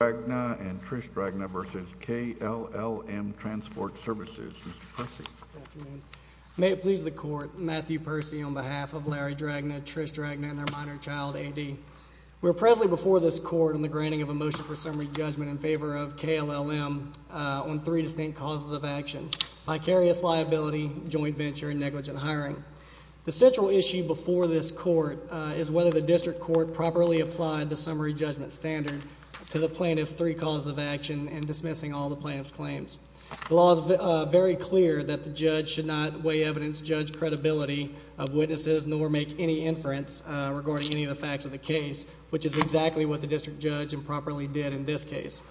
Larry Dragna and Trish Dragna v. KLLM Transport Services, Mr. Percy. Good afternoon. May it please the Court, Matthew Percy on behalf of Larry Dragna, Trish Dragna, and their minor child, A.D. We are presently before this Court on the granting of a motion for summary judgment in favor of KLLM on three distinct causes of action. Vicarious liability, joint venture, and negligent hiring. The central issue before this Court is whether the District Court properly applied the summary judgment standard to the plaintiff's three causes of action in dismissing all the plaintiff's claims. The law is very clear that the judge should not weigh evidence judge credibility of witnesses nor make any inference regarding any of the facts of the case, which is exactly what the District Judge improperly did in this case.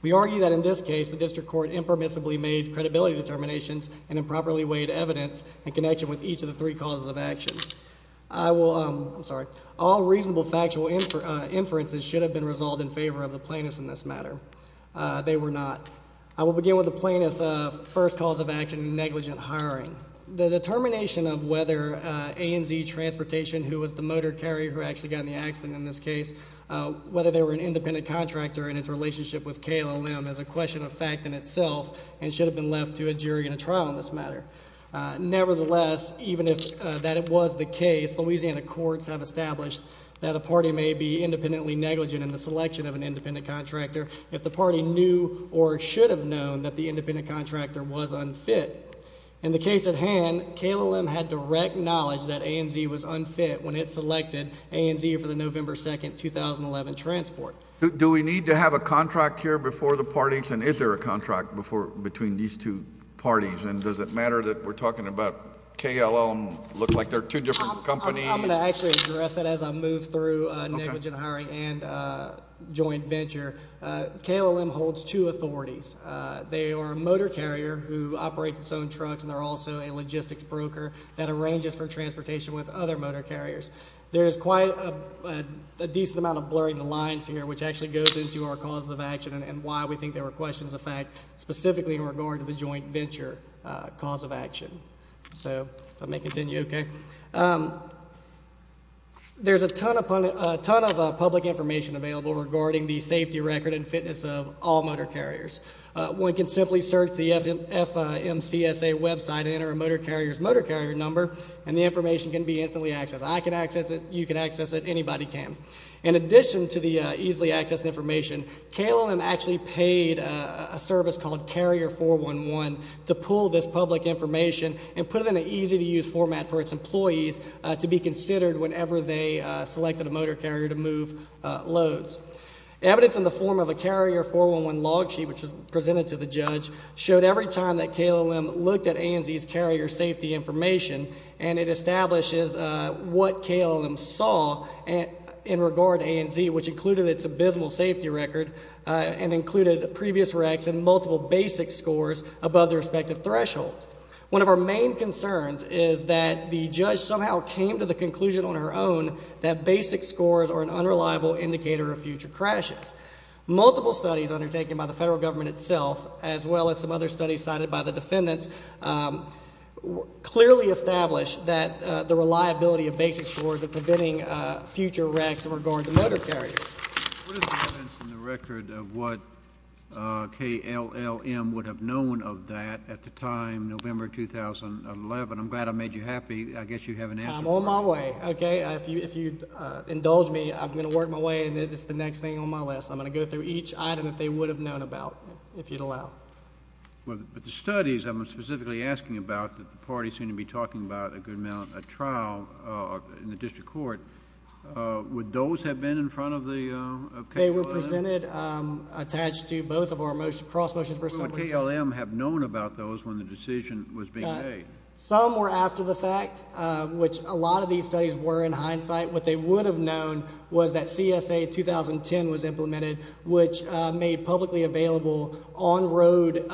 We argue that in this case the District Court impermissibly made credibility determinations and improperly weighed evidence in connection with each of the three causes of action. All reasonable factual inferences should have been resolved in favor of the plaintiffs in this matter. They were not. I will begin with the plaintiff's first cause of action, negligent hiring. The determination of whether A & Z Transportation, who was the motor carrier who actually got in the accident in this case, whether they were an independent contractor and its relationship with KLLM is a question of fact in itself and should have been left to a jury in a trial in this matter. Nevertheless, even if that was the case, Louisiana courts have established that a party may be independently negligent in the selection of an independent contractor if the party knew or should have known that the independent contractor was unfit. In the case at hand, KLLM had direct knowledge that A & Z was unfit when it selected A & Z for the November 2, 2011, transport. Do we need to have a contract here before the parties? And is there a contract between these two parties? And does it matter that we're talking about KLLM looking like they're two different companies? I'm going to actually address that as I move through negligent hiring and joint venture. KLLM holds two authorities. They are a motor carrier who operates its own truck, and they're also a logistics broker that arranges for transportation with other motor carriers. There is quite a decent amount of blurring the lines here, which actually goes into our cause of action and why we think there were questions of fact, specifically in regard to the joint venture cause of action. So if I may continue, okay. There's a ton of public information available regarding the safety record and fitness of all motor carriers. One can simply search the FMCSA website and enter a motor carrier's motor carrier number, and the information can be instantly accessed. I can access it. You can access it. Anybody can. In addition to the easily accessed information, KLLM actually paid a service called Carrier 411 to pull this public information and put it in an easy-to-use format for its employees to be considered whenever they selected a motor carrier to move loads. Evidence in the form of a Carrier 411 log sheet, which was presented to the judge, showed every time that KLLM looked at ANZ's carrier safety information, and it establishes what KLLM saw in regard to ANZ, which included its abysmal safety record and included previous wrecks and multiple basic scores above their respective thresholds. One of our main concerns is that the judge somehow came to the conclusion on her own that basic scores are an unreliable indicator of future crashes. Multiple studies undertaken by the federal government itself, as well as some other studies cited by the defendants, clearly established that the reliability of basic scores are preventing future wrecks in regard to motor carriers. What is the evidence in the record of what KLLM would have known of that at the time, November 2011? I'm glad I made you happy. I guess you have an answer. I'm on my way, okay? If you indulge me, I'm going to work my way and it's the next thing on my list. I'm going to go through each item that they would have known about, if you'd allow. But the studies I'm specifically asking about that the parties seem to be talking about a good amount, a trial in the district court, would those have been in front of the KLLM? They were presented, attached to both of our cross motions for assembly. Would KLLM have known about those when the decision was being made? Some were after the fact, which a lot of these studies were in hindsight. What they would have known was that CSA 2010 was implemented, which made publicly available on-road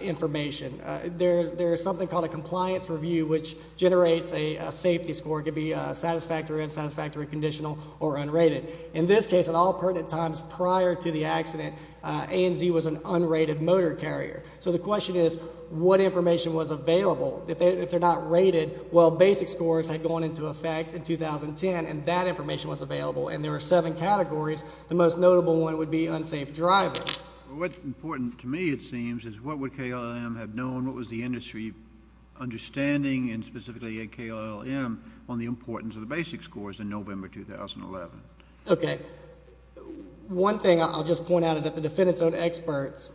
information. There is something called a compliance review, which generates a safety score. It could be satisfactory, unsatisfactory, conditional, or unrated. In this case, at all pertinent times prior to the accident, ANZ was an unrated motor carrier. So the question is, what information was available? If they're not rated, well, basic scores had gone into effect in 2010, and that information was available, and there were seven categories. The most notable one would be unsafe driver. What's important to me, it seems, is what would KLLM have known? What was the industry understanding, and specifically at KLLM, on the importance of the basic scores in November 2011? Okay. One thing I'll just point out is that the defendant's own experts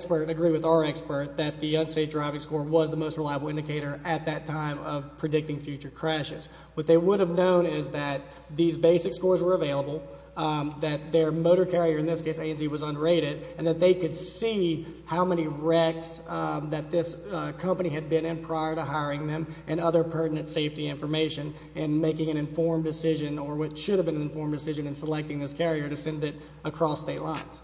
agree with our expert that the unsafe driving score was the most reliable indicator at that time of predicting future crashes. What they would have known is that these basic scores were available, that their motor carrier, in this case ANZ, was unrated, and that they could see how many wrecks that this company had been in prior to hiring them and other pertinent safety information in making an informed decision or what should have been an informed decision in selecting this carrier to send it across state lines.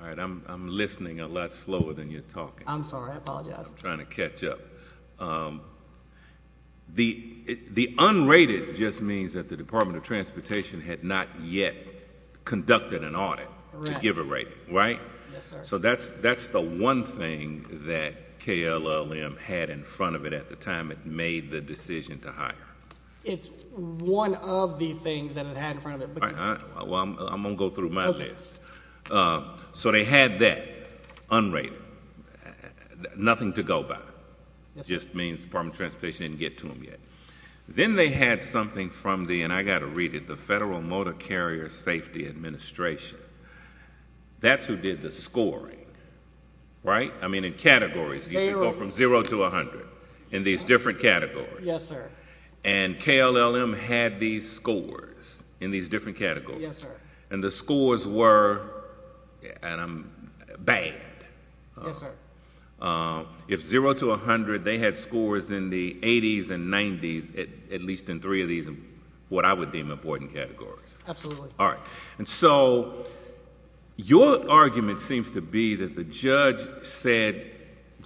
All right. I'm listening a lot slower than you're talking. I'm sorry. I apologize. I'm trying to catch up. The unrated just means that the Department of Transportation had not yet conducted an audit to give a rating, right? Yes, sir. So that's the one thing that KLLM had in front of it at the time it made the decision to hire. It's one of the things that it had in front of it. All right. Well, I'm going to go through my list. So they had that unrated, nothing to go by. It just means the Department of Transportation didn't get to them yet. Then they had something from the, and I've got to read it, the Federal Motor Carrier Safety Administration. That's who did the scoring, right? I mean, in categories you can go from 0 to 100 in these different categories. Yes, sir. And KLLM had these scores in these different categories. Yes, sir. And the scores were bad. Yes, sir. If 0 to 100, they had scores in the 80s and 90s, at least in three of these what I would deem important categories. Absolutely. All right. And so your argument seems to be that the judge said,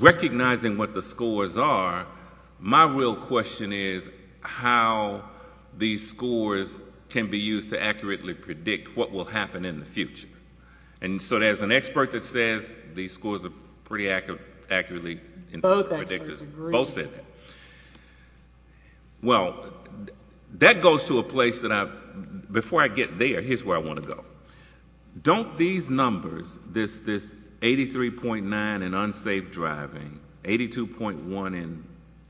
recognizing what the scores are, my real question is how these scores can be used to accurately predict what will happen in the future. And so there's an expert that says these scores are pretty accurately interpreted. Both experts agree. Both say that. Well, that goes to a place that I've, before I get there, here's where I want to go. Don't these numbers, this 83.9 in unsafe driving, 82.1 in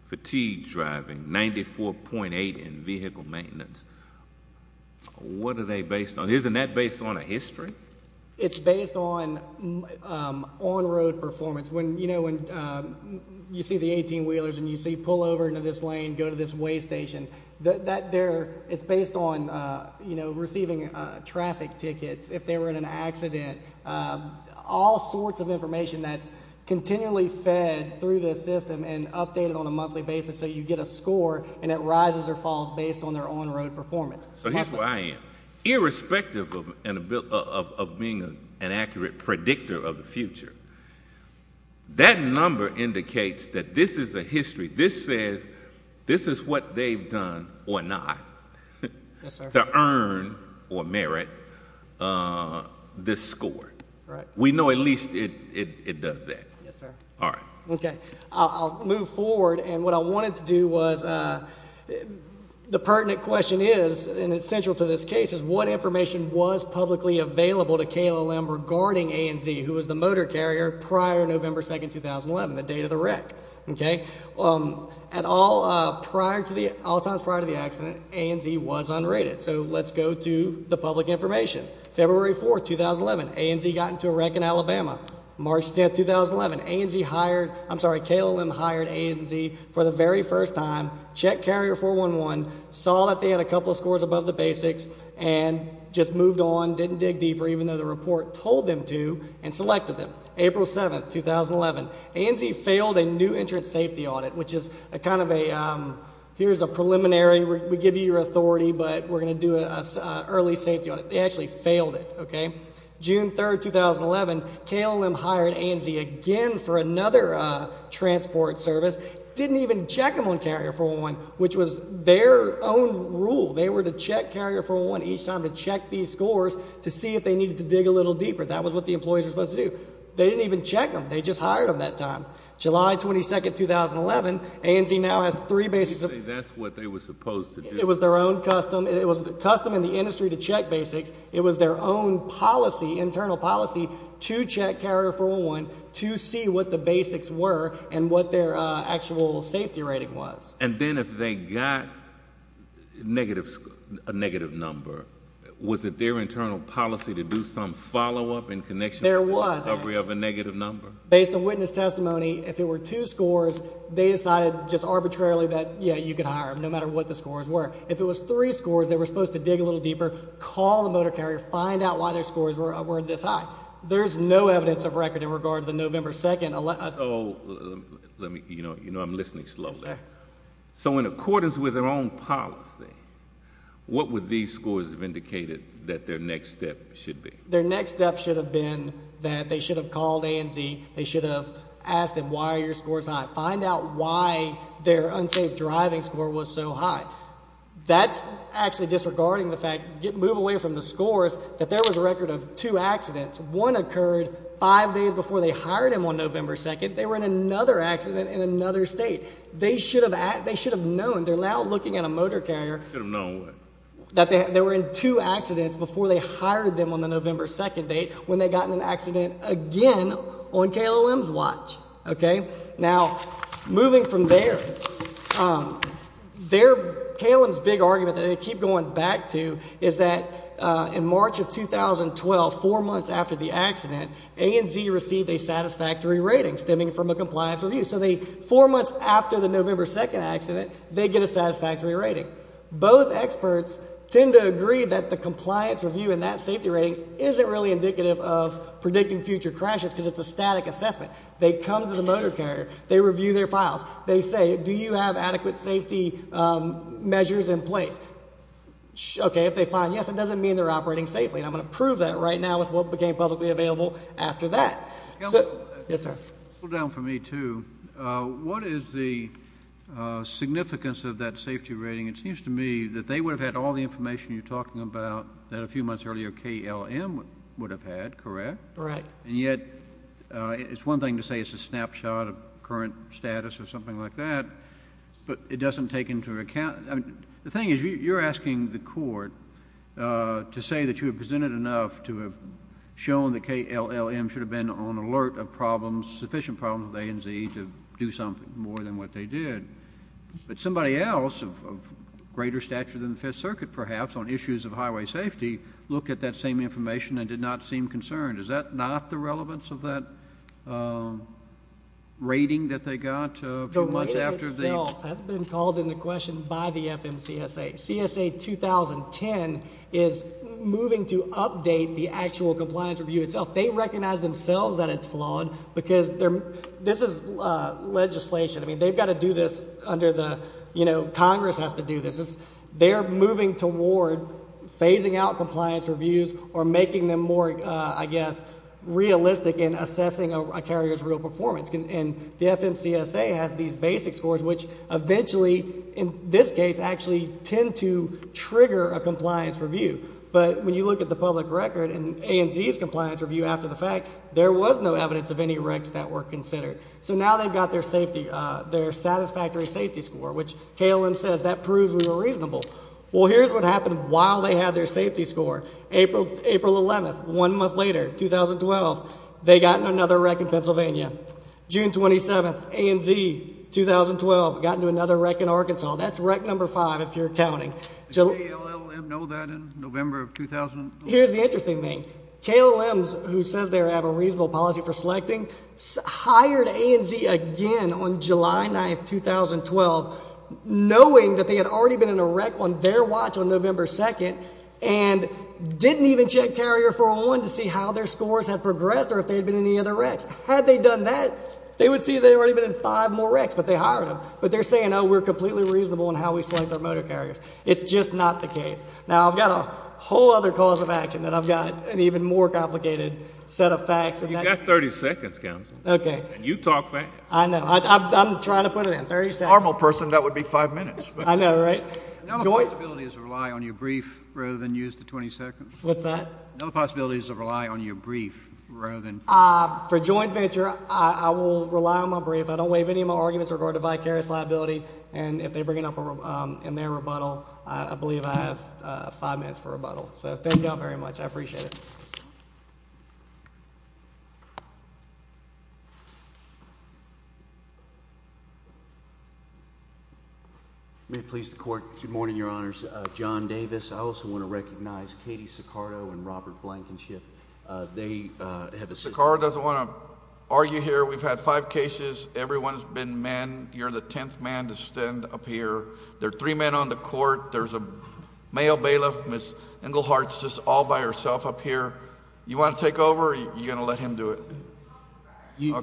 fatigue driving, 94.8 in vehicle maintenance, what are they based on? Isn't that based on a history? It's based on on-road performance. When you see the 18-wheelers and you see pull over into this lane, go to this weigh station, it's based on receiving traffic tickets if they were in an accident, all sorts of information that's continually fed through the system and updated on a monthly basis so you get a score and it rises or falls based on their on-road performance. So here's where I am. Irrespective of being an accurate predictor of the future, that number indicates that this is a history. This says this is what they've done or not to earn or merit this score. We know at least it does that. Yes, sir. All right. Okay. I'll move forward. And what I wanted to do was the pertinent question is, and it's central to this case, is what information was publicly available to KLLM regarding ANZ, who was the motor carrier prior November 2, 2011, the date of the wreck? Okay. At all times prior to the accident, ANZ was unrated. So let's go to the public information. February 4, 2011, ANZ got into a wreck in Alabama. March 10, 2011, ANZ hired, I'm sorry, KLM hired ANZ for the very first time, checked Carrier 411, saw that they had a couple of scores above the basics, and just moved on, didn't dig deeper, even though the report told them to, and selected them. April 7, 2011, ANZ failed a new entrance safety audit, which is a kind of a, here's a preliminary. We give you your authority, but we're going to do an early safety audit. They actually failed it. Okay. June 3, 2011, KLM hired ANZ again for another transport service, didn't even check them on Carrier 411, which was their own rule. They were to check Carrier 411 each time to check these scores to see if they needed to dig a little deeper. That was what the employees were supposed to do. They didn't even check them. They just hired them that time. July 22, 2011, ANZ now has three basics. You say that's what they were supposed to do. It was their own custom. It was custom in the industry to check basics. It was their own policy, internal policy, to check Carrier 411 to see what the basics were and what their actual safety rating was. And then if they got a negative number, was it their internal policy to do some follow-up in connection with the discovery of a negative number? There was, ANZ. Based on witness testimony, if there were two scores, they decided just arbitrarily that, yeah, you could hire them, no matter what the scores were. If it was three scores, they were supposed to dig a little deeper, call the motor carrier, find out why their scores were this high. There's no evidence of record in regard to the November 2nd. So let me, you know I'm listening slowly. Yes, sir. So in accordance with their own policy, what would these scores have indicated that their next step should be? Their next step should have been that they should have called ANZ. They should have asked them, why are your scores high? Find out why their unsafe driving score was so high. That's actually disregarding the fact, move away from the scores, that there was a record of two accidents. One occurred five days before they hired them on November 2nd. They were in another accident in another state. They should have known. They're now looking at a motor carrier. Should have known what? That they were in two accidents before they hired them on the November 2nd date when they got in an accident again on KLOM's watch. Okay? Now, moving from there, KLOM's big argument that they keep going back to is that in March of 2012, four months after the accident, ANZ received a satisfactory rating stemming from a compliance review. So four months after the November 2nd accident, they get a satisfactory rating. Both experts tend to agree that the compliance review and that safety rating isn't really indicative of predicting future crashes because it's a static assessment. They come to the motor carrier. They review their files. They say, do you have adequate safety measures in place? Okay, if they find yes, it doesn't mean they're operating safely, and I'm going to prove that right now with what became publicly available after that. Yes, sir. Slow down for me, too. What is the significance of that safety rating? It seems to me that they would have had all the information you're talking about that a few months earlier KLM would have had, correct? Correct. And yet it's one thing to say it's a snapshot of current status or something like that, but it doesn't take into account. The thing is you're asking the court to say that you have presented enough to have shown that KLM should have been on alert of problems, sufficient problems with ANZ to do something more than what they did. But somebody else of greater stature than the Fifth Circuit perhaps on issues of highway safety looked at that same information and did not seem concerned. Is that not the relevance of that rating that they got a few months after the? The rating itself has been called into question by the FMCSA. CSA 2010 is moving to update the actual compliance review itself. They recognize themselves that it's flawed because this is legislation. I mean, they've got to do this under the, you know, Congress has to do this. They're moving toward phasing out compliance reviews or making them more, I guess, realistic in assessing a carrier's real performance. And the FMCSA has these basic scores which eventually, in this case, actually tend to trigger a compliance review. But when you look at the public record and ANZ's compliance review after the fact, there was no evidence of any wrecks that were considered. So now they've got their satisfactory safety score, which KALM says that proves we were reasonable. Well, here's what happened while they had their safety score. April 11th, one month later, 2012, they got in another wreck in Pennsylvania. June 27th, ANZ, 2012, got into another wreck in Arkansas. That's wreck number five if you're counting. Does KALM know that in November of 2012? Here's the interesting thing. KALM, who says they have a reasonable policy for selecting, hired ANZ again on July 9th, 2012, knowing that they had already been in a wreck on their watch on November 2nd and didn't even check carrier 401 to see how their scores had progressed or if they had been in any other wrecks. Had they done that, they would see they had already been in five more wrecks, but they hired them. But they're saying, oh, we're completely reasonable in how we select our motor carriers. It's just not the case. Now, I've got a whole other cause of action that I've got an even more complicated set of facts. You've got 30 seconds, counsel. Okay. And you talk fast. I know. I'm trying to put it in. 30 seconds. Normal person, that would be five minutes. I know, right? Another possibility is to rely on your brief rather than use the 20 seconds. What's that? Another possibility is to rely on your brief rather than... For joint venture, I will rely on my brief. I don't waive any of my arguments regarding vicarious liability, and if they bring it up in their rebuttal, I believe I have five minutes for rebuttal. So thank you all very much. I appreciate it. May it please the Court. Good morning, Your Honors. John Davis. I also want to recognize Katie Sicardo and Robert Blankenship. They have assisted... Sicardo doesn't want to argue here. We've had five cases. Everyone has been manned. There are three men on the Court. There's a male bailiff, Ms. Englehart, just all by herself up here. You want to take over or are you going to let him do it? You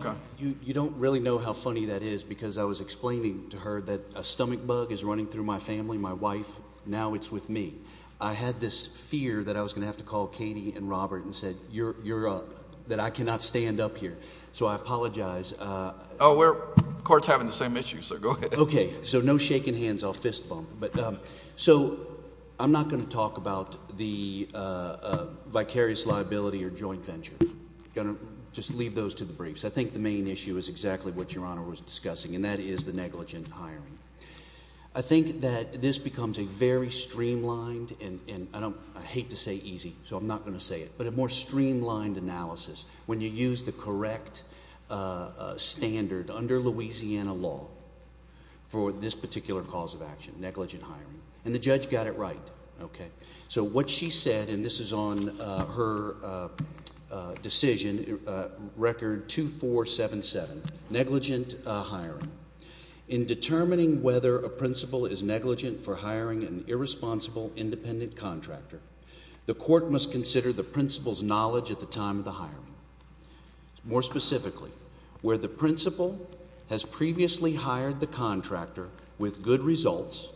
don't really know how funny that is because I was explaining to her that a stomach bug is running through my family, my wife. Now it's with me. I had this fear that I was going to have to call Katie and Robert and say, you're up, that I cannot stand up here. So I apologize. Oh, we're... The Court's having the same issue, so go ahead. Okay, so no shaking hands. I'll fist bump. So I'm not going to talk about the vicarious liability or joint venture. I'm going to just leave those to the briefs. I think the main issue is exactly what Your Honor was discussing, and that is the negligent hiring. I think that this becomes a very streamlined, and I hate to say easy, so I'm not going to say it, but a more streamlined analysis when you use the correct standard under Louisiana law for this particular cause of action, negligent hiring. And the judge got it right. So what she said, and this is on her decision, Record 2477, negligent hiring. In determining whether a principal is negligent for hiring an irresponsible independent contractor, the court must consider the principal's knowledge at the time of the hiring. More specifically, where the principal has previously hired the contractor with good results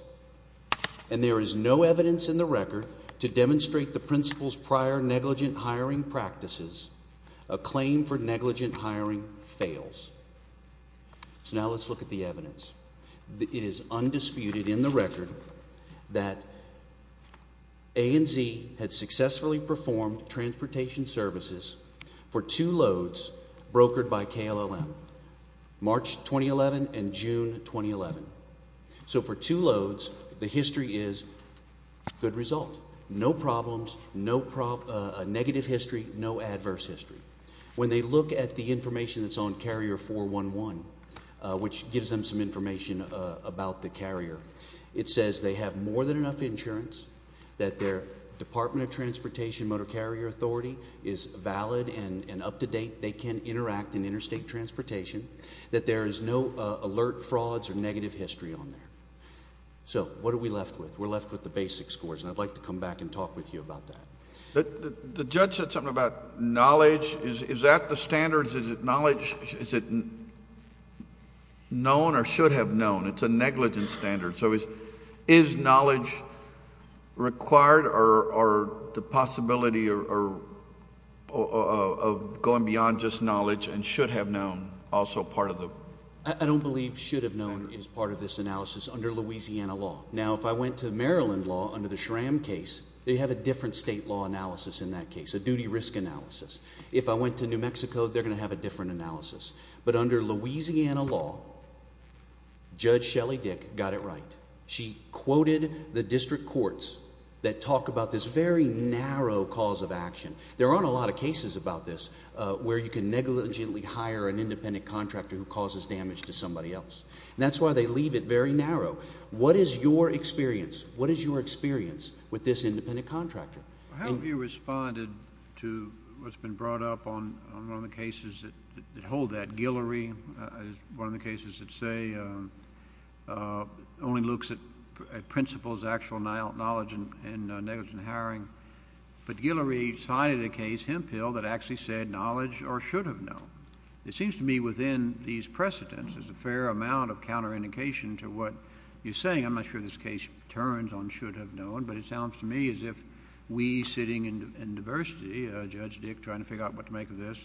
and there is no evidence in the record to demonstrate the principal's prior negligent hiring practices, a claim for negligent hiring fails. So now let's look at the evidence. It is undisputed in the record that ANZ had successfully performed transportation services for two loads brokered by KLLM, March 2011 and June 2011. So for two loads, the history is good result. No problems, no negative history, no adverse history. When they look at the information that's on Carrier 411, which gives them some information about the carrier, it says they have more than enough insurance, that their Department of Transportation Motor Carrier Authority is valid and up to date, they can interact in interstate transportation, that there is no alert frauds or negative history on there. So what are we left with? We're left with the basic scores, and I'd like to come back and talk with you about that. The judge said something about knowledge. Is that the standard? Is it knowledge, is it known or should have known? It's a negligent standard. So is knowledge required or the possibility of going beyond just knowledge and should have known also part of the... I don't believe should have known is part of this analysis under Louisiana law. Now, if I went to Maryland law under the Schramm case, they have a different state law analysis in that case, a duty risk analysis. If I went to New Mexico, they're going to have a different analysis. But under Louisiana law, Judge Shelley Dick got it right. She quoted the district courts that talk about this very narrow cause of action. There aren't a lot of cases about this where you can negligently hire an independent contractor who causes damage to somebody else. That's why they leave it very narrow. What is your experience? What is your experience with this independent contractor? How have you responded to what's been brought up on one of the cases that hold that? Guillory is one of the cases that say only looks at principles, actual knowledge, and negligent hiring. But Guillory cited a case, Hemphill, that actually said knowledge or should have known. It seems to me within these precedents, there's a fair amount of counterindication to what you're saying. I'm not sure this case turns on should have known. But it sounds to me as if we sitting in diversity, Judge Dick trying to figure out what to make of this,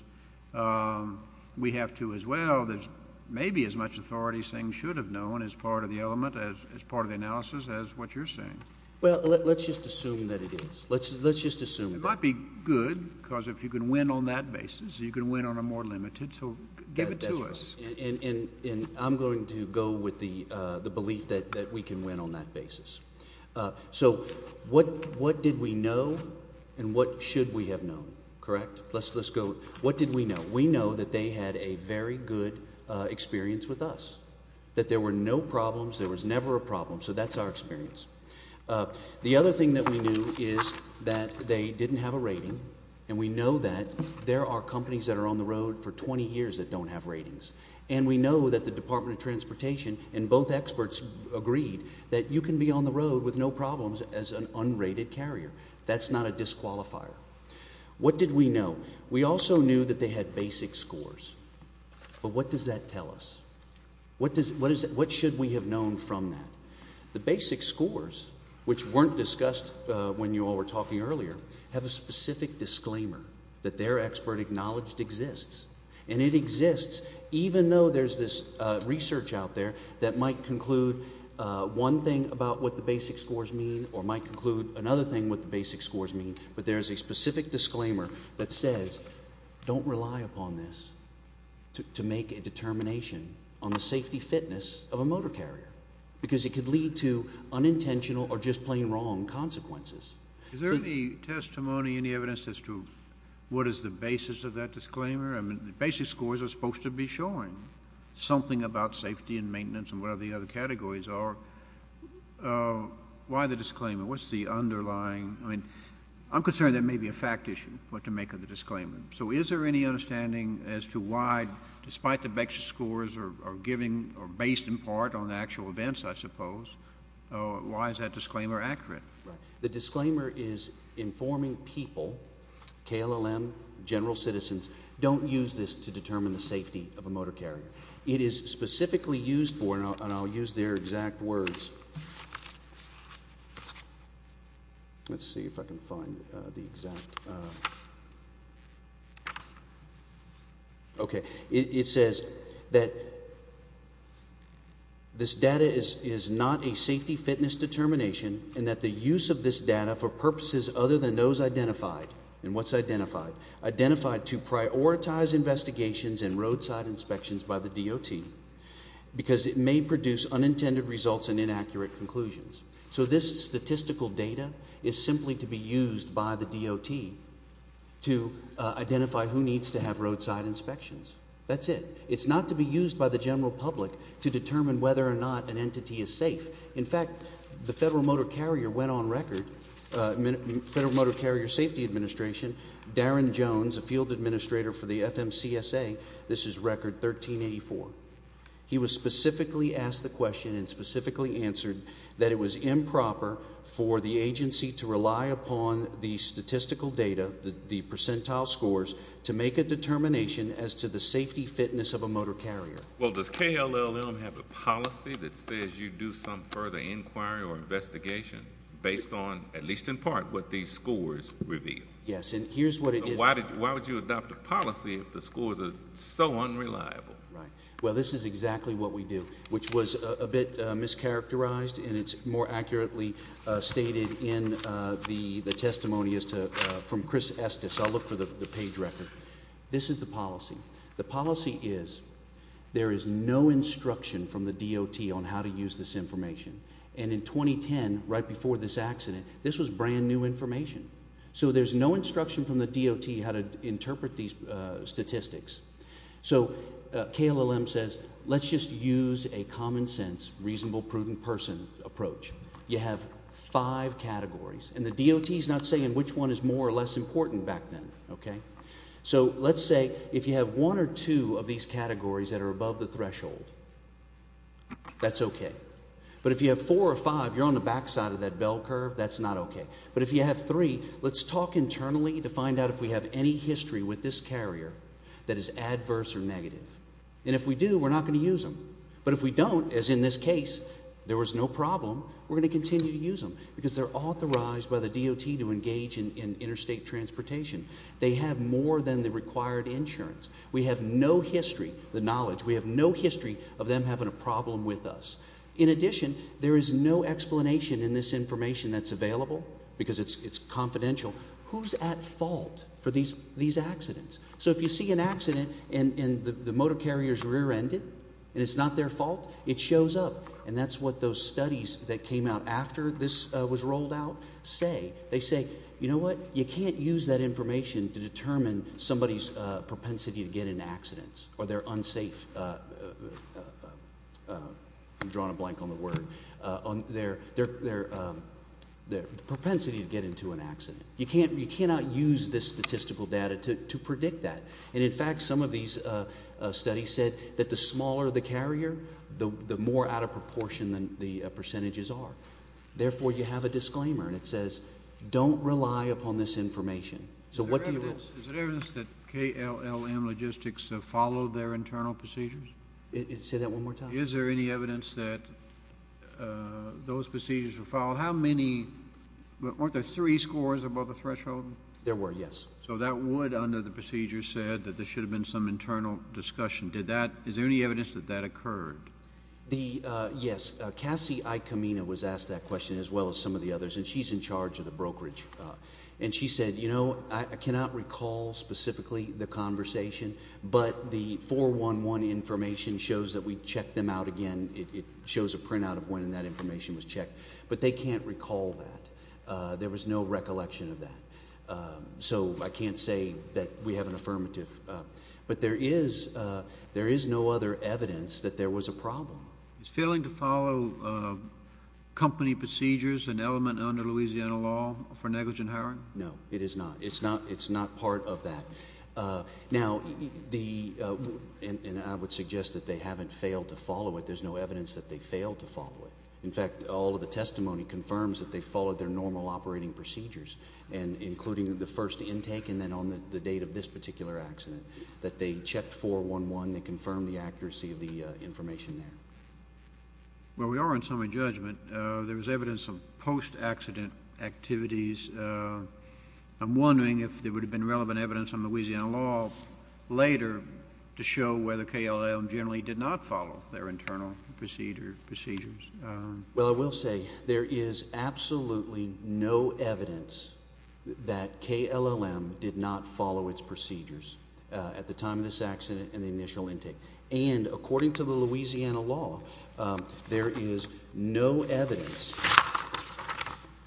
we have to as well. There's maybe as much authority saying should have known as part of the element, as part of the analysis, as what you're saying. Well, let's just assume that it is. Let's just assume that. It might be good because if you can win on that basis, you can win on a more limited. So give it to us. And I'm going to go with the belief that we can win on that basis. So what did we know and what should we have known, correct? Let's go. What did we know? We know that they had a very good experience with us, that there were no problems. There was never a problem. So that's our experience. The other thing that we knew is that they didn't have a rating. And we know that there are companies that are on the road for 20 years that don't have ratings. And we know that the Department of Transportation and both experts agreed that you can be on the road with no problems as an unrated carrier. That's not a disqualifier. What did we know? We also knew that they had basic scores. But what does that tell us? What should we have known from that? The basic scores, which weren't discussed when you all were talking earlier, have a specific disclaimer that their expert acknowledged exists. And it exists even though there's this research out there that might conclude one thing about what the basic scores mean or might conclude another thing what the basic scores mean. But there is a specific disclaimer that says don't rely upon this to make a determination on the safety fitness of a motor carrier because it could lead to unintentional or just plain wrong consequences. Is there any testimony, any evidence as to what is the basis of that disclaimer? I mean, the basic scores are supposed to be showing something about safety and maintenance and whatever the other categories are. Why the disclaimer? What's the underlying? I mean, I'm concerned there may be a fact issue what to make of the disclaimer. So is there any understanding as to why, despite the basic scores are based in part on actual events, I suppose, why is that disclaimer accurate? The disclaimer is informing people, KLLM, general citizens, don't use this to determine the safety of a motor carrier. It is specifically used for, and I'll use their exact words. Let's see if I can find the exact. Okay. It says that this data is not a safety fitness determination and that the use of this data for purposes other than those identified, and what's identified, identified to prioritize investigations and roadside inspections by the DOT because it may produce unintended results and inaccurate conclusions. So this statistical data is simply to be used by the DOT to identify who needs to have roadside inspections. That's it. It's not to be used by the general public to determine whether or not an entity is safe. In fact, the Federal Motor Carrier went on record, Federal Motor Carrier Safety Administration, Darren Jones, a field administrator for the FMCSA, this is record 1384. He was specifically asked the question and specifically answered that it was improper for the agency to rely upon the statistical data, the percentile scores, to make a determination as to the safety fitness of a motor carrier. Well, does KLLM have a policy that says you do some further inquiry or investigation based on, at least in part, what these scores reveal? Yes, and here's what it is. So why would you adopt a policy if the scores are so unreliable? Right. Well, this is exactly what we do, which was a bit mischaracterized, and it's more accurately stated in the testimony from Chris Estes. I'll look for the page record. This is the policy. The policy is there is no instruction from the DOT on how to use this information, and in 2010, right before this accident, this was brand-new information. So there's no instruction from the DOT how to interpret these statistics. So KLLM says let's just use a common sense, reasonable, prudent person approach. You have five categories, and the DOT is not saying which one is more or less important back then, okay? So let's say if you have one or two of these categories that are above the threshold, that's okay. But if you have four or five, you're on the backside of that bell curve. That's not okay. But if you have three, let's talk internally to find out if we have any history with this carrier that is adverse or negative. And if we do, we're not going to use them. But if we don't, as in this case, there was no problem, we're going to continue to use them because they're authorized by the DOT to engage in interstate transportation. They have more than the required insurance. We have no history, the knowledge, we have no history of them having a problem with us. In addition, there is no explanation in this information that's available because it's confidential. Who's at fault for these accidents? So if you see an accident and the motor carrier is rear-ended and it's not their fault, it shows up. And that's what those studies that came out after this was rolled out say. They say, you know what, you can't use that information to determine somebody's propensity to get into accidents or their unsafe, I'm drawing a blank on the word, their propensity to get into an accident. You cannot use this statistical data to predict that. And, in fact, some of these studies said that the smaller the carrier, the more out of proportion the percentages are. Therefore, you have a disclaimer, and it says don't rely upon this information. Is there evidence that KLLM Logistics have followed their internal procedures? Say that one more time. Is there any evidence that those procedures were followed? How many? Weren't there three scores above the threshold? There were, yes. So that would, under the procedure, said that there should have been some internal discussion. Is there any evidence that that occurred? Yes. Cassie Iacomino was asked that question as well as some of the others, and she's in charge of the brokerage. And she said, you know, I cannot recall specifically the conversation, but the 411 information shows that we checked them out again. It shows a printout of when that information was checked. But they can't recall that. There was no recollection of that. So I can't say that we have an affirmative. But there is no other evidence that there was a problem. Is failing to follow company procedures an element under Louisiana law for negligent hiring? No, it is not. It's not part of that. Now, and I would suggest that they haven't failed to follow it. There's no evidence that they failed to follow it. In fact, all of the testimony confirms that they followed their normal operating procedures, including the first intake and then on the date of this particular accident, that they checked 411. They confirmed the accuracy of the information there. Well, we are on summary judgment. There was evidence of post-accident activities. I'm wondering if there would have been relevant evidence on Louisiana law later to show whether KLLM generally did not follow their internal procedures. Well, I will say there is absolutely no evidence that KLLM did not follow its procedures at the time of this accident and the initial intake. And according to the Louisiana law, there is no evidence,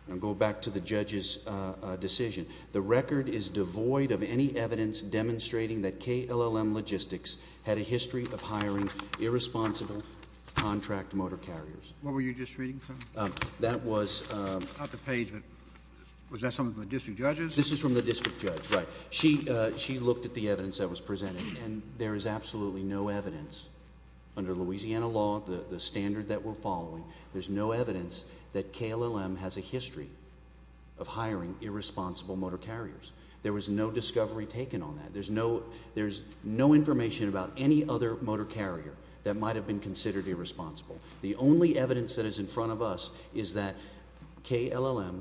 and I'll go back to the judge's decision, the record is devoid of any evidence demonstrating that KLLM Logistics had a history of hiring irresponsible contract motor carriers. What were you just reading from? That was... Not the page, but was that something from the district judges? This is from the district judge, right. She looked at the evidence that was presented, and there is absolutely no evidence. Under Louisiana law, the standard that we're following, there's no evidence that KLLM has a history of hiring irresponsible motor carriers. There was no discovery taken on that. There's no information about any other motor carrier that might have been considered irresponsible. The only evidence that is in front of us is that KLLM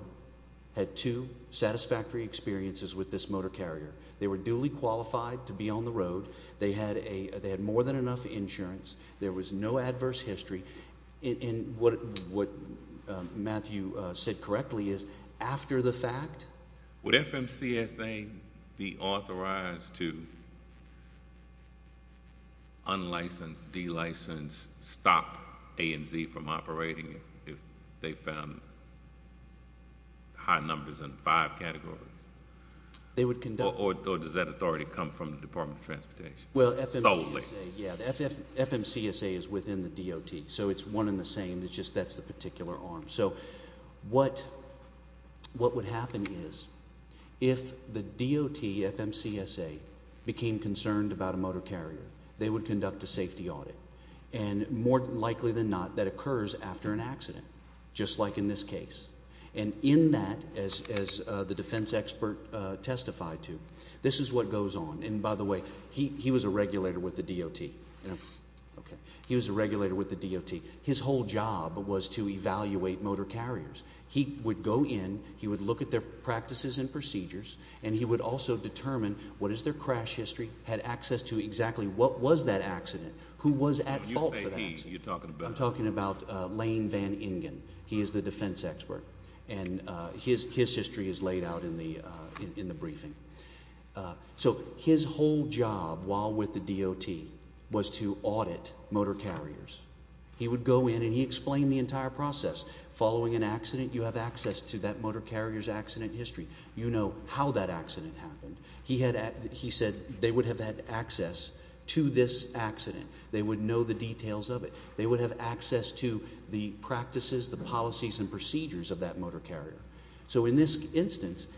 had two satisfactory experiences with this motor carrier. They were duly qualified to be on the road. They had more than enough insurance. There was no adverse history. And what Matthew said correctly is after the fact... Would they be authorized to unlicense, delicense, stop A&Z from operating if they found high numbers in five categories? Or does that authority come from the Department of Transportation solely? FMCSA is within the DOT, so it's one and the same. It's just that's the particular arm. So what would happen is if the DOT, FMCSA, became concerned about a motor carrier, they would conduct a safety audit. And more likely than not, that occurs after an accident, just like in this case. And in that, as the defense expert testified to, this is what goes on. And by the way, he was a regulator with the DOT. He was a regulator with the DOT. His whole job was to evaluate motor carriers. He would go in, he would look at their practices and procedures, and he would also determine what is their crash history, had access to exactly what was that accident, who was at fault for that accident. I'm talking about Lane Van Ingen. He is the defense expert, and his history is laid out in the briefing. So his whole job while with the DOT was to audit motor carriers. He would go in, and he explained the entire process. Following an accident, you have access to that motor carrier's accident history. You know how that accident happened. He said they would have had access to this accident. They would know the details of it. They would have access to the practices, the policies, and procedures of that motor carrier. So in this instance,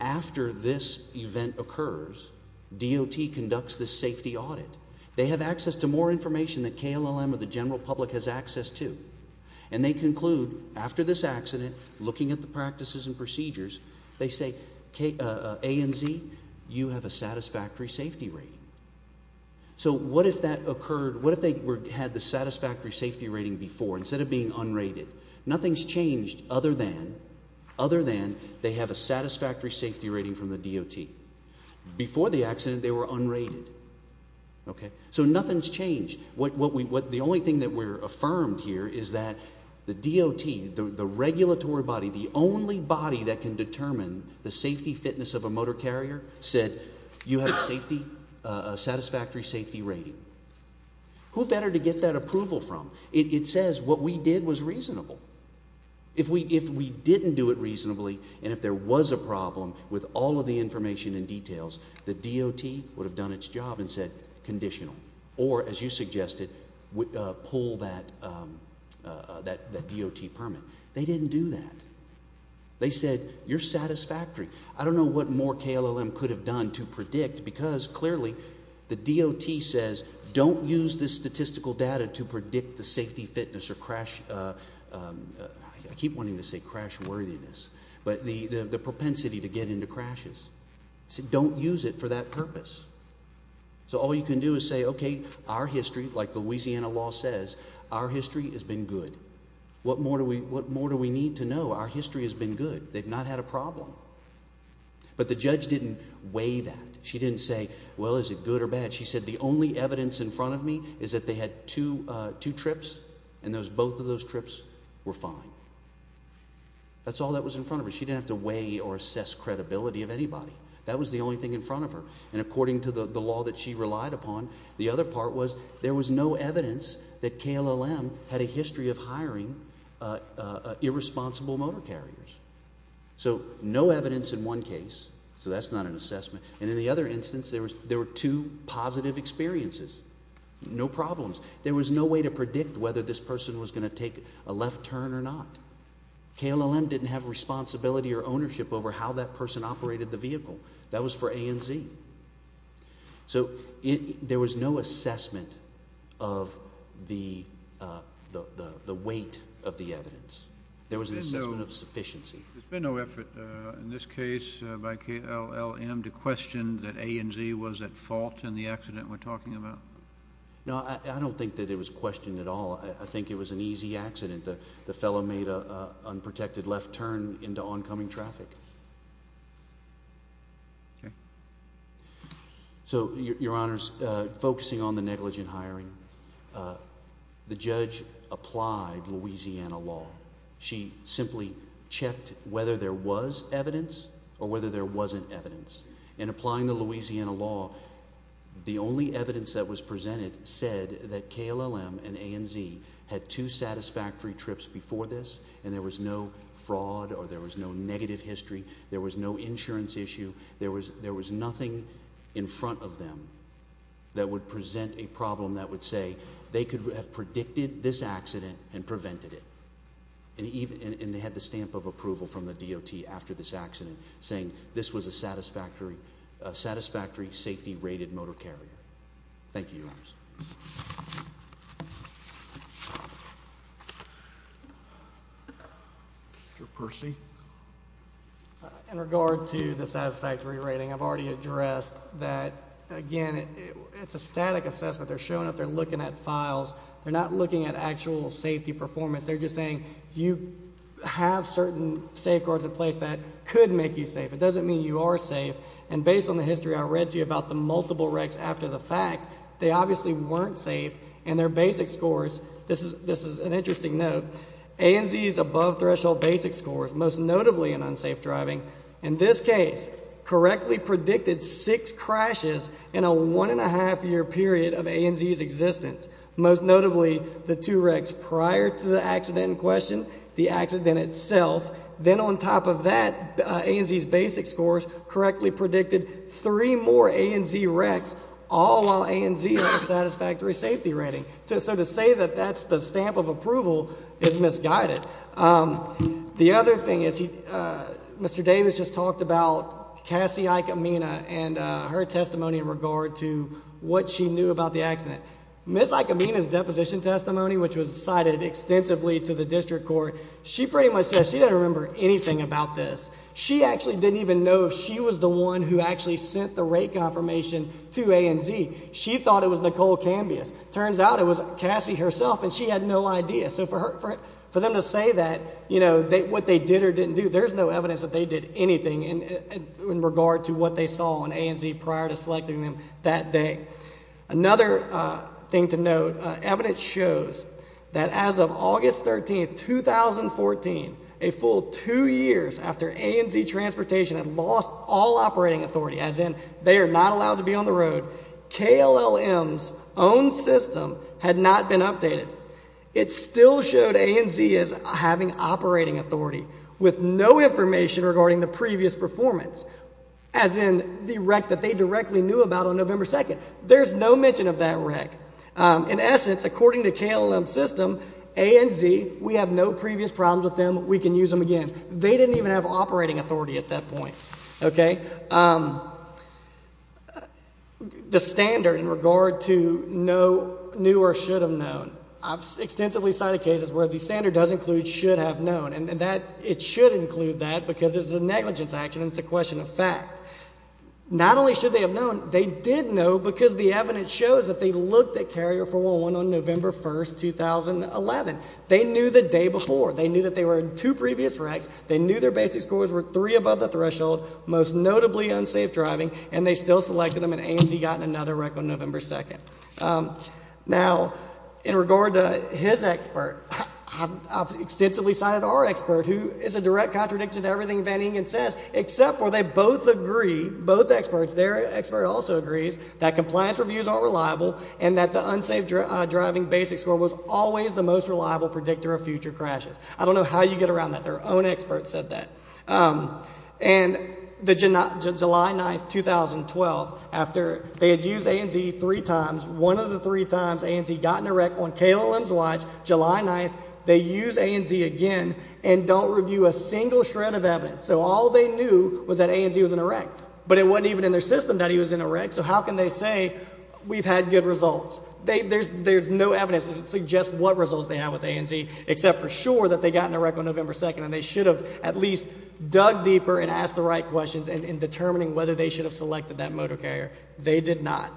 after this event occurs, DOT conducts this safety audit. They have access to more information than KLLM or the general public has access to, and they conclude after this accident, looking at the practices and procedures, they say, A and Z, you have a satisfactory safety rating. So what if that occurred? What if they had the satisfactory safety rating before instead of being unrated? Nothing's changed other than they have a satisfactory safety rating from the DOT. Before the accident, they were unrated. So nothing's changed. The only thing that we're affirmed here is that the DOT, the regulatory body, the only body that can determine the safety fitness of a motor carrier, said you have a satisfactory safety rating. Who better to get that approval from? It says what we did was reasonable. If we didn't do it reasonably and if there was a problem with all of the information and details, the DOT would have done its job and said conditional, or as you suggested, pull that DOT permit. They didn't do that. They said you're satisfactory. I don't know what more KLLM could have done to predict because clearly the DOT says don't use this statistical data to predict the safety fitness or crash, I keep wanting to say crash worthiness, but the propensity to get into crashes. It said don't use it for that purpose. So all you can do is say, okay, our history, like Louisiana law says, our history has been good. What more do we need to know? Our history has been good. They've not had a problem. But the judge didn't weigh that. She didn't say, well, is it good or bad? She said the only evidence in front of me is that they had two trips, and both of those trips were fine. That's all that was in front of her. She didn't have to weigh or assess credibility of anybody. That was the only thing in front of her. And according to the law that she relied upon, the other part was there was no evidence that KLLM had a history of hiring irresponsible motor carriers. And in the other instance, there were two positive experiences, no problems. There was no way to predict whether this person was going to take a left turn or not. KLLM didn't have responsibility or ownership over how that person operated the vehicle. That was for A and Z. So there was no assessment of the weight of the evidence. There was an assessment of sufficiency. There's been no effort in this case by KLLM to question that A and Z was at fault in the accident we're talking about? No, I don't think that it was questioned at all. I think it was an easy accident. The fellow made an unprotected left turn into oncoming traffic. So, Your Honors, focusing on the negligent hiring, the judge applied Louisiana law. She simply checked whether there was evidence or whether there wasn't evidence. In applying the Louisiana law, the only evidence that was presented said that KLLM and A and Z had two satisfactory trips before this, and there was no fraud or there was no negative history. There was no insurance issue. There was nothing in front of them that would present a problem that would say they could have predicted this accident and prevented it. And they had the stamp of approval from the DOT after this accident, saying this was a satisfactory safety-rated motor carrier. Thank you, Your Honors. Mr. Percy? In regard to the satisfactory rating, I've already addressed that, again, it's a static assessment. They're showing up, they're looking at files. They're not looking at actual safety performance. They're just saying you have certain safeguards in place that could make you safe. It doesn't mean you are safe. And based on the history I read to you about the multiple wrecks after the fact, they obviously weren't safe, and their basic scores, this is an interesting note, A and Z's above-threshold basic scores, most notably in unsafe driving, in this case, correctly predicted six crashes in a one-and-a-half-year period of A and Z's existence, most notably the two wrecks prior to the accident in question, the accident itself. Then on top of that, A and Z's basic scores correctly predicted three more A and Z wrecks, all while A and Z had a satisfactory safety rating. So to say that that's the stamp of approval is misguided. The other thing is Mr. Davis just talked about Cassie Aikamena and her testimony in regard to what she knew about the accident. Ms. Aikamena's deposition testimony, which was cited extensively to the district court, she pretty much says she doesn't remember anything about this. She actually didn't even know if she was the one who actually sent the rate confirmation to A and Z. She thought it was Nicole Cambius. It turns out it was Cassie herself, and she had no idea. So for them to say that, you know, what they did or didn't do, there's no evidence that they did anything in regard to what they saw on A and Z prior to selecting them that day. Another thing to note, evidence shows that as of August 13, 2014, a full two years after A and Z Transportation had lost all operating authority, as in they are not allowed to be on the road, KLLM's own system had not been updated. It still showed A and Z as having operating authority with no information regarding the previous performance, as in the wreck that they directly knew about on November 2nd. There's no mention of that wreck. In essence, according to KLLM's system, A and Z, we have no previous problems with them. We can use them again. They didn't even have operating authority at that point. Okay. The standard in regard to knew or should have known, I've extensively cited cases where the standard does include should have known, and it should include that because it's a negligence action and it's a question of fact. Not only should they have known, they did know because the evidence shows that they looked at Carrier 411 on November 1st, 2011. They knew the day before. They knew that they were in two previous wrecks. They knew their basic scores were three above the threshold, most notably unsafe driving, and they still selected them, and A and Z got in another wreck on November 2nd. Now, in regard to his expert, I've extensively cited our expert, who is a direct contradictor to everything Van Ingen says, except for they both agree, both experts, their expert also agrees that compliance reviews aren't reliable and that the unsafe driving basic score was always the most reliable predictor of future crashes. I don't know how you get around that. Their own expert said that. And the July 9th, 2012, after they had used A and Z three times, one of the three times A and Z got in a wreck on KLM's watch, July 9th, they use A and Z again and don't review a single shred of evidence. So all they knew was that A and Z was in a wreck, but it wasn't even in their system that he was in a wreck, so how can they say we've had good results? There's no evidence to suggest what results they had with A and Z, except for sure that they got in a wreck on November 2nd, and they should have at least dug deeper and asked the right questions in determining whether they should have selected that motor carrier. They did not.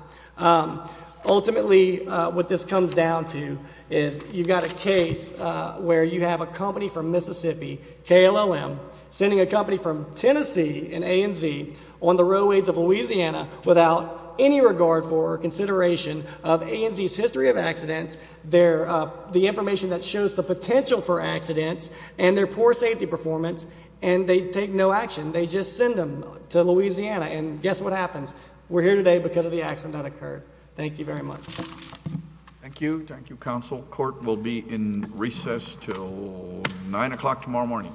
Ultimately, what this comes down to is you've got a case where you have a company from Mississippi, KLLM, sending a company from Tennessee in A and Z on the railways of Louisiana without any regard for or consideration of A and Z's history of accidents, the information that shows the potential for accidents, and their poor safety performance, and they take no action. They just send them to Louisiana, and guess what happens? We're here today because of the accident that occurred. Thank you very much. Thank you. Thank you, counsel. Court will be in recess until 9 o'clock tomorrow morning.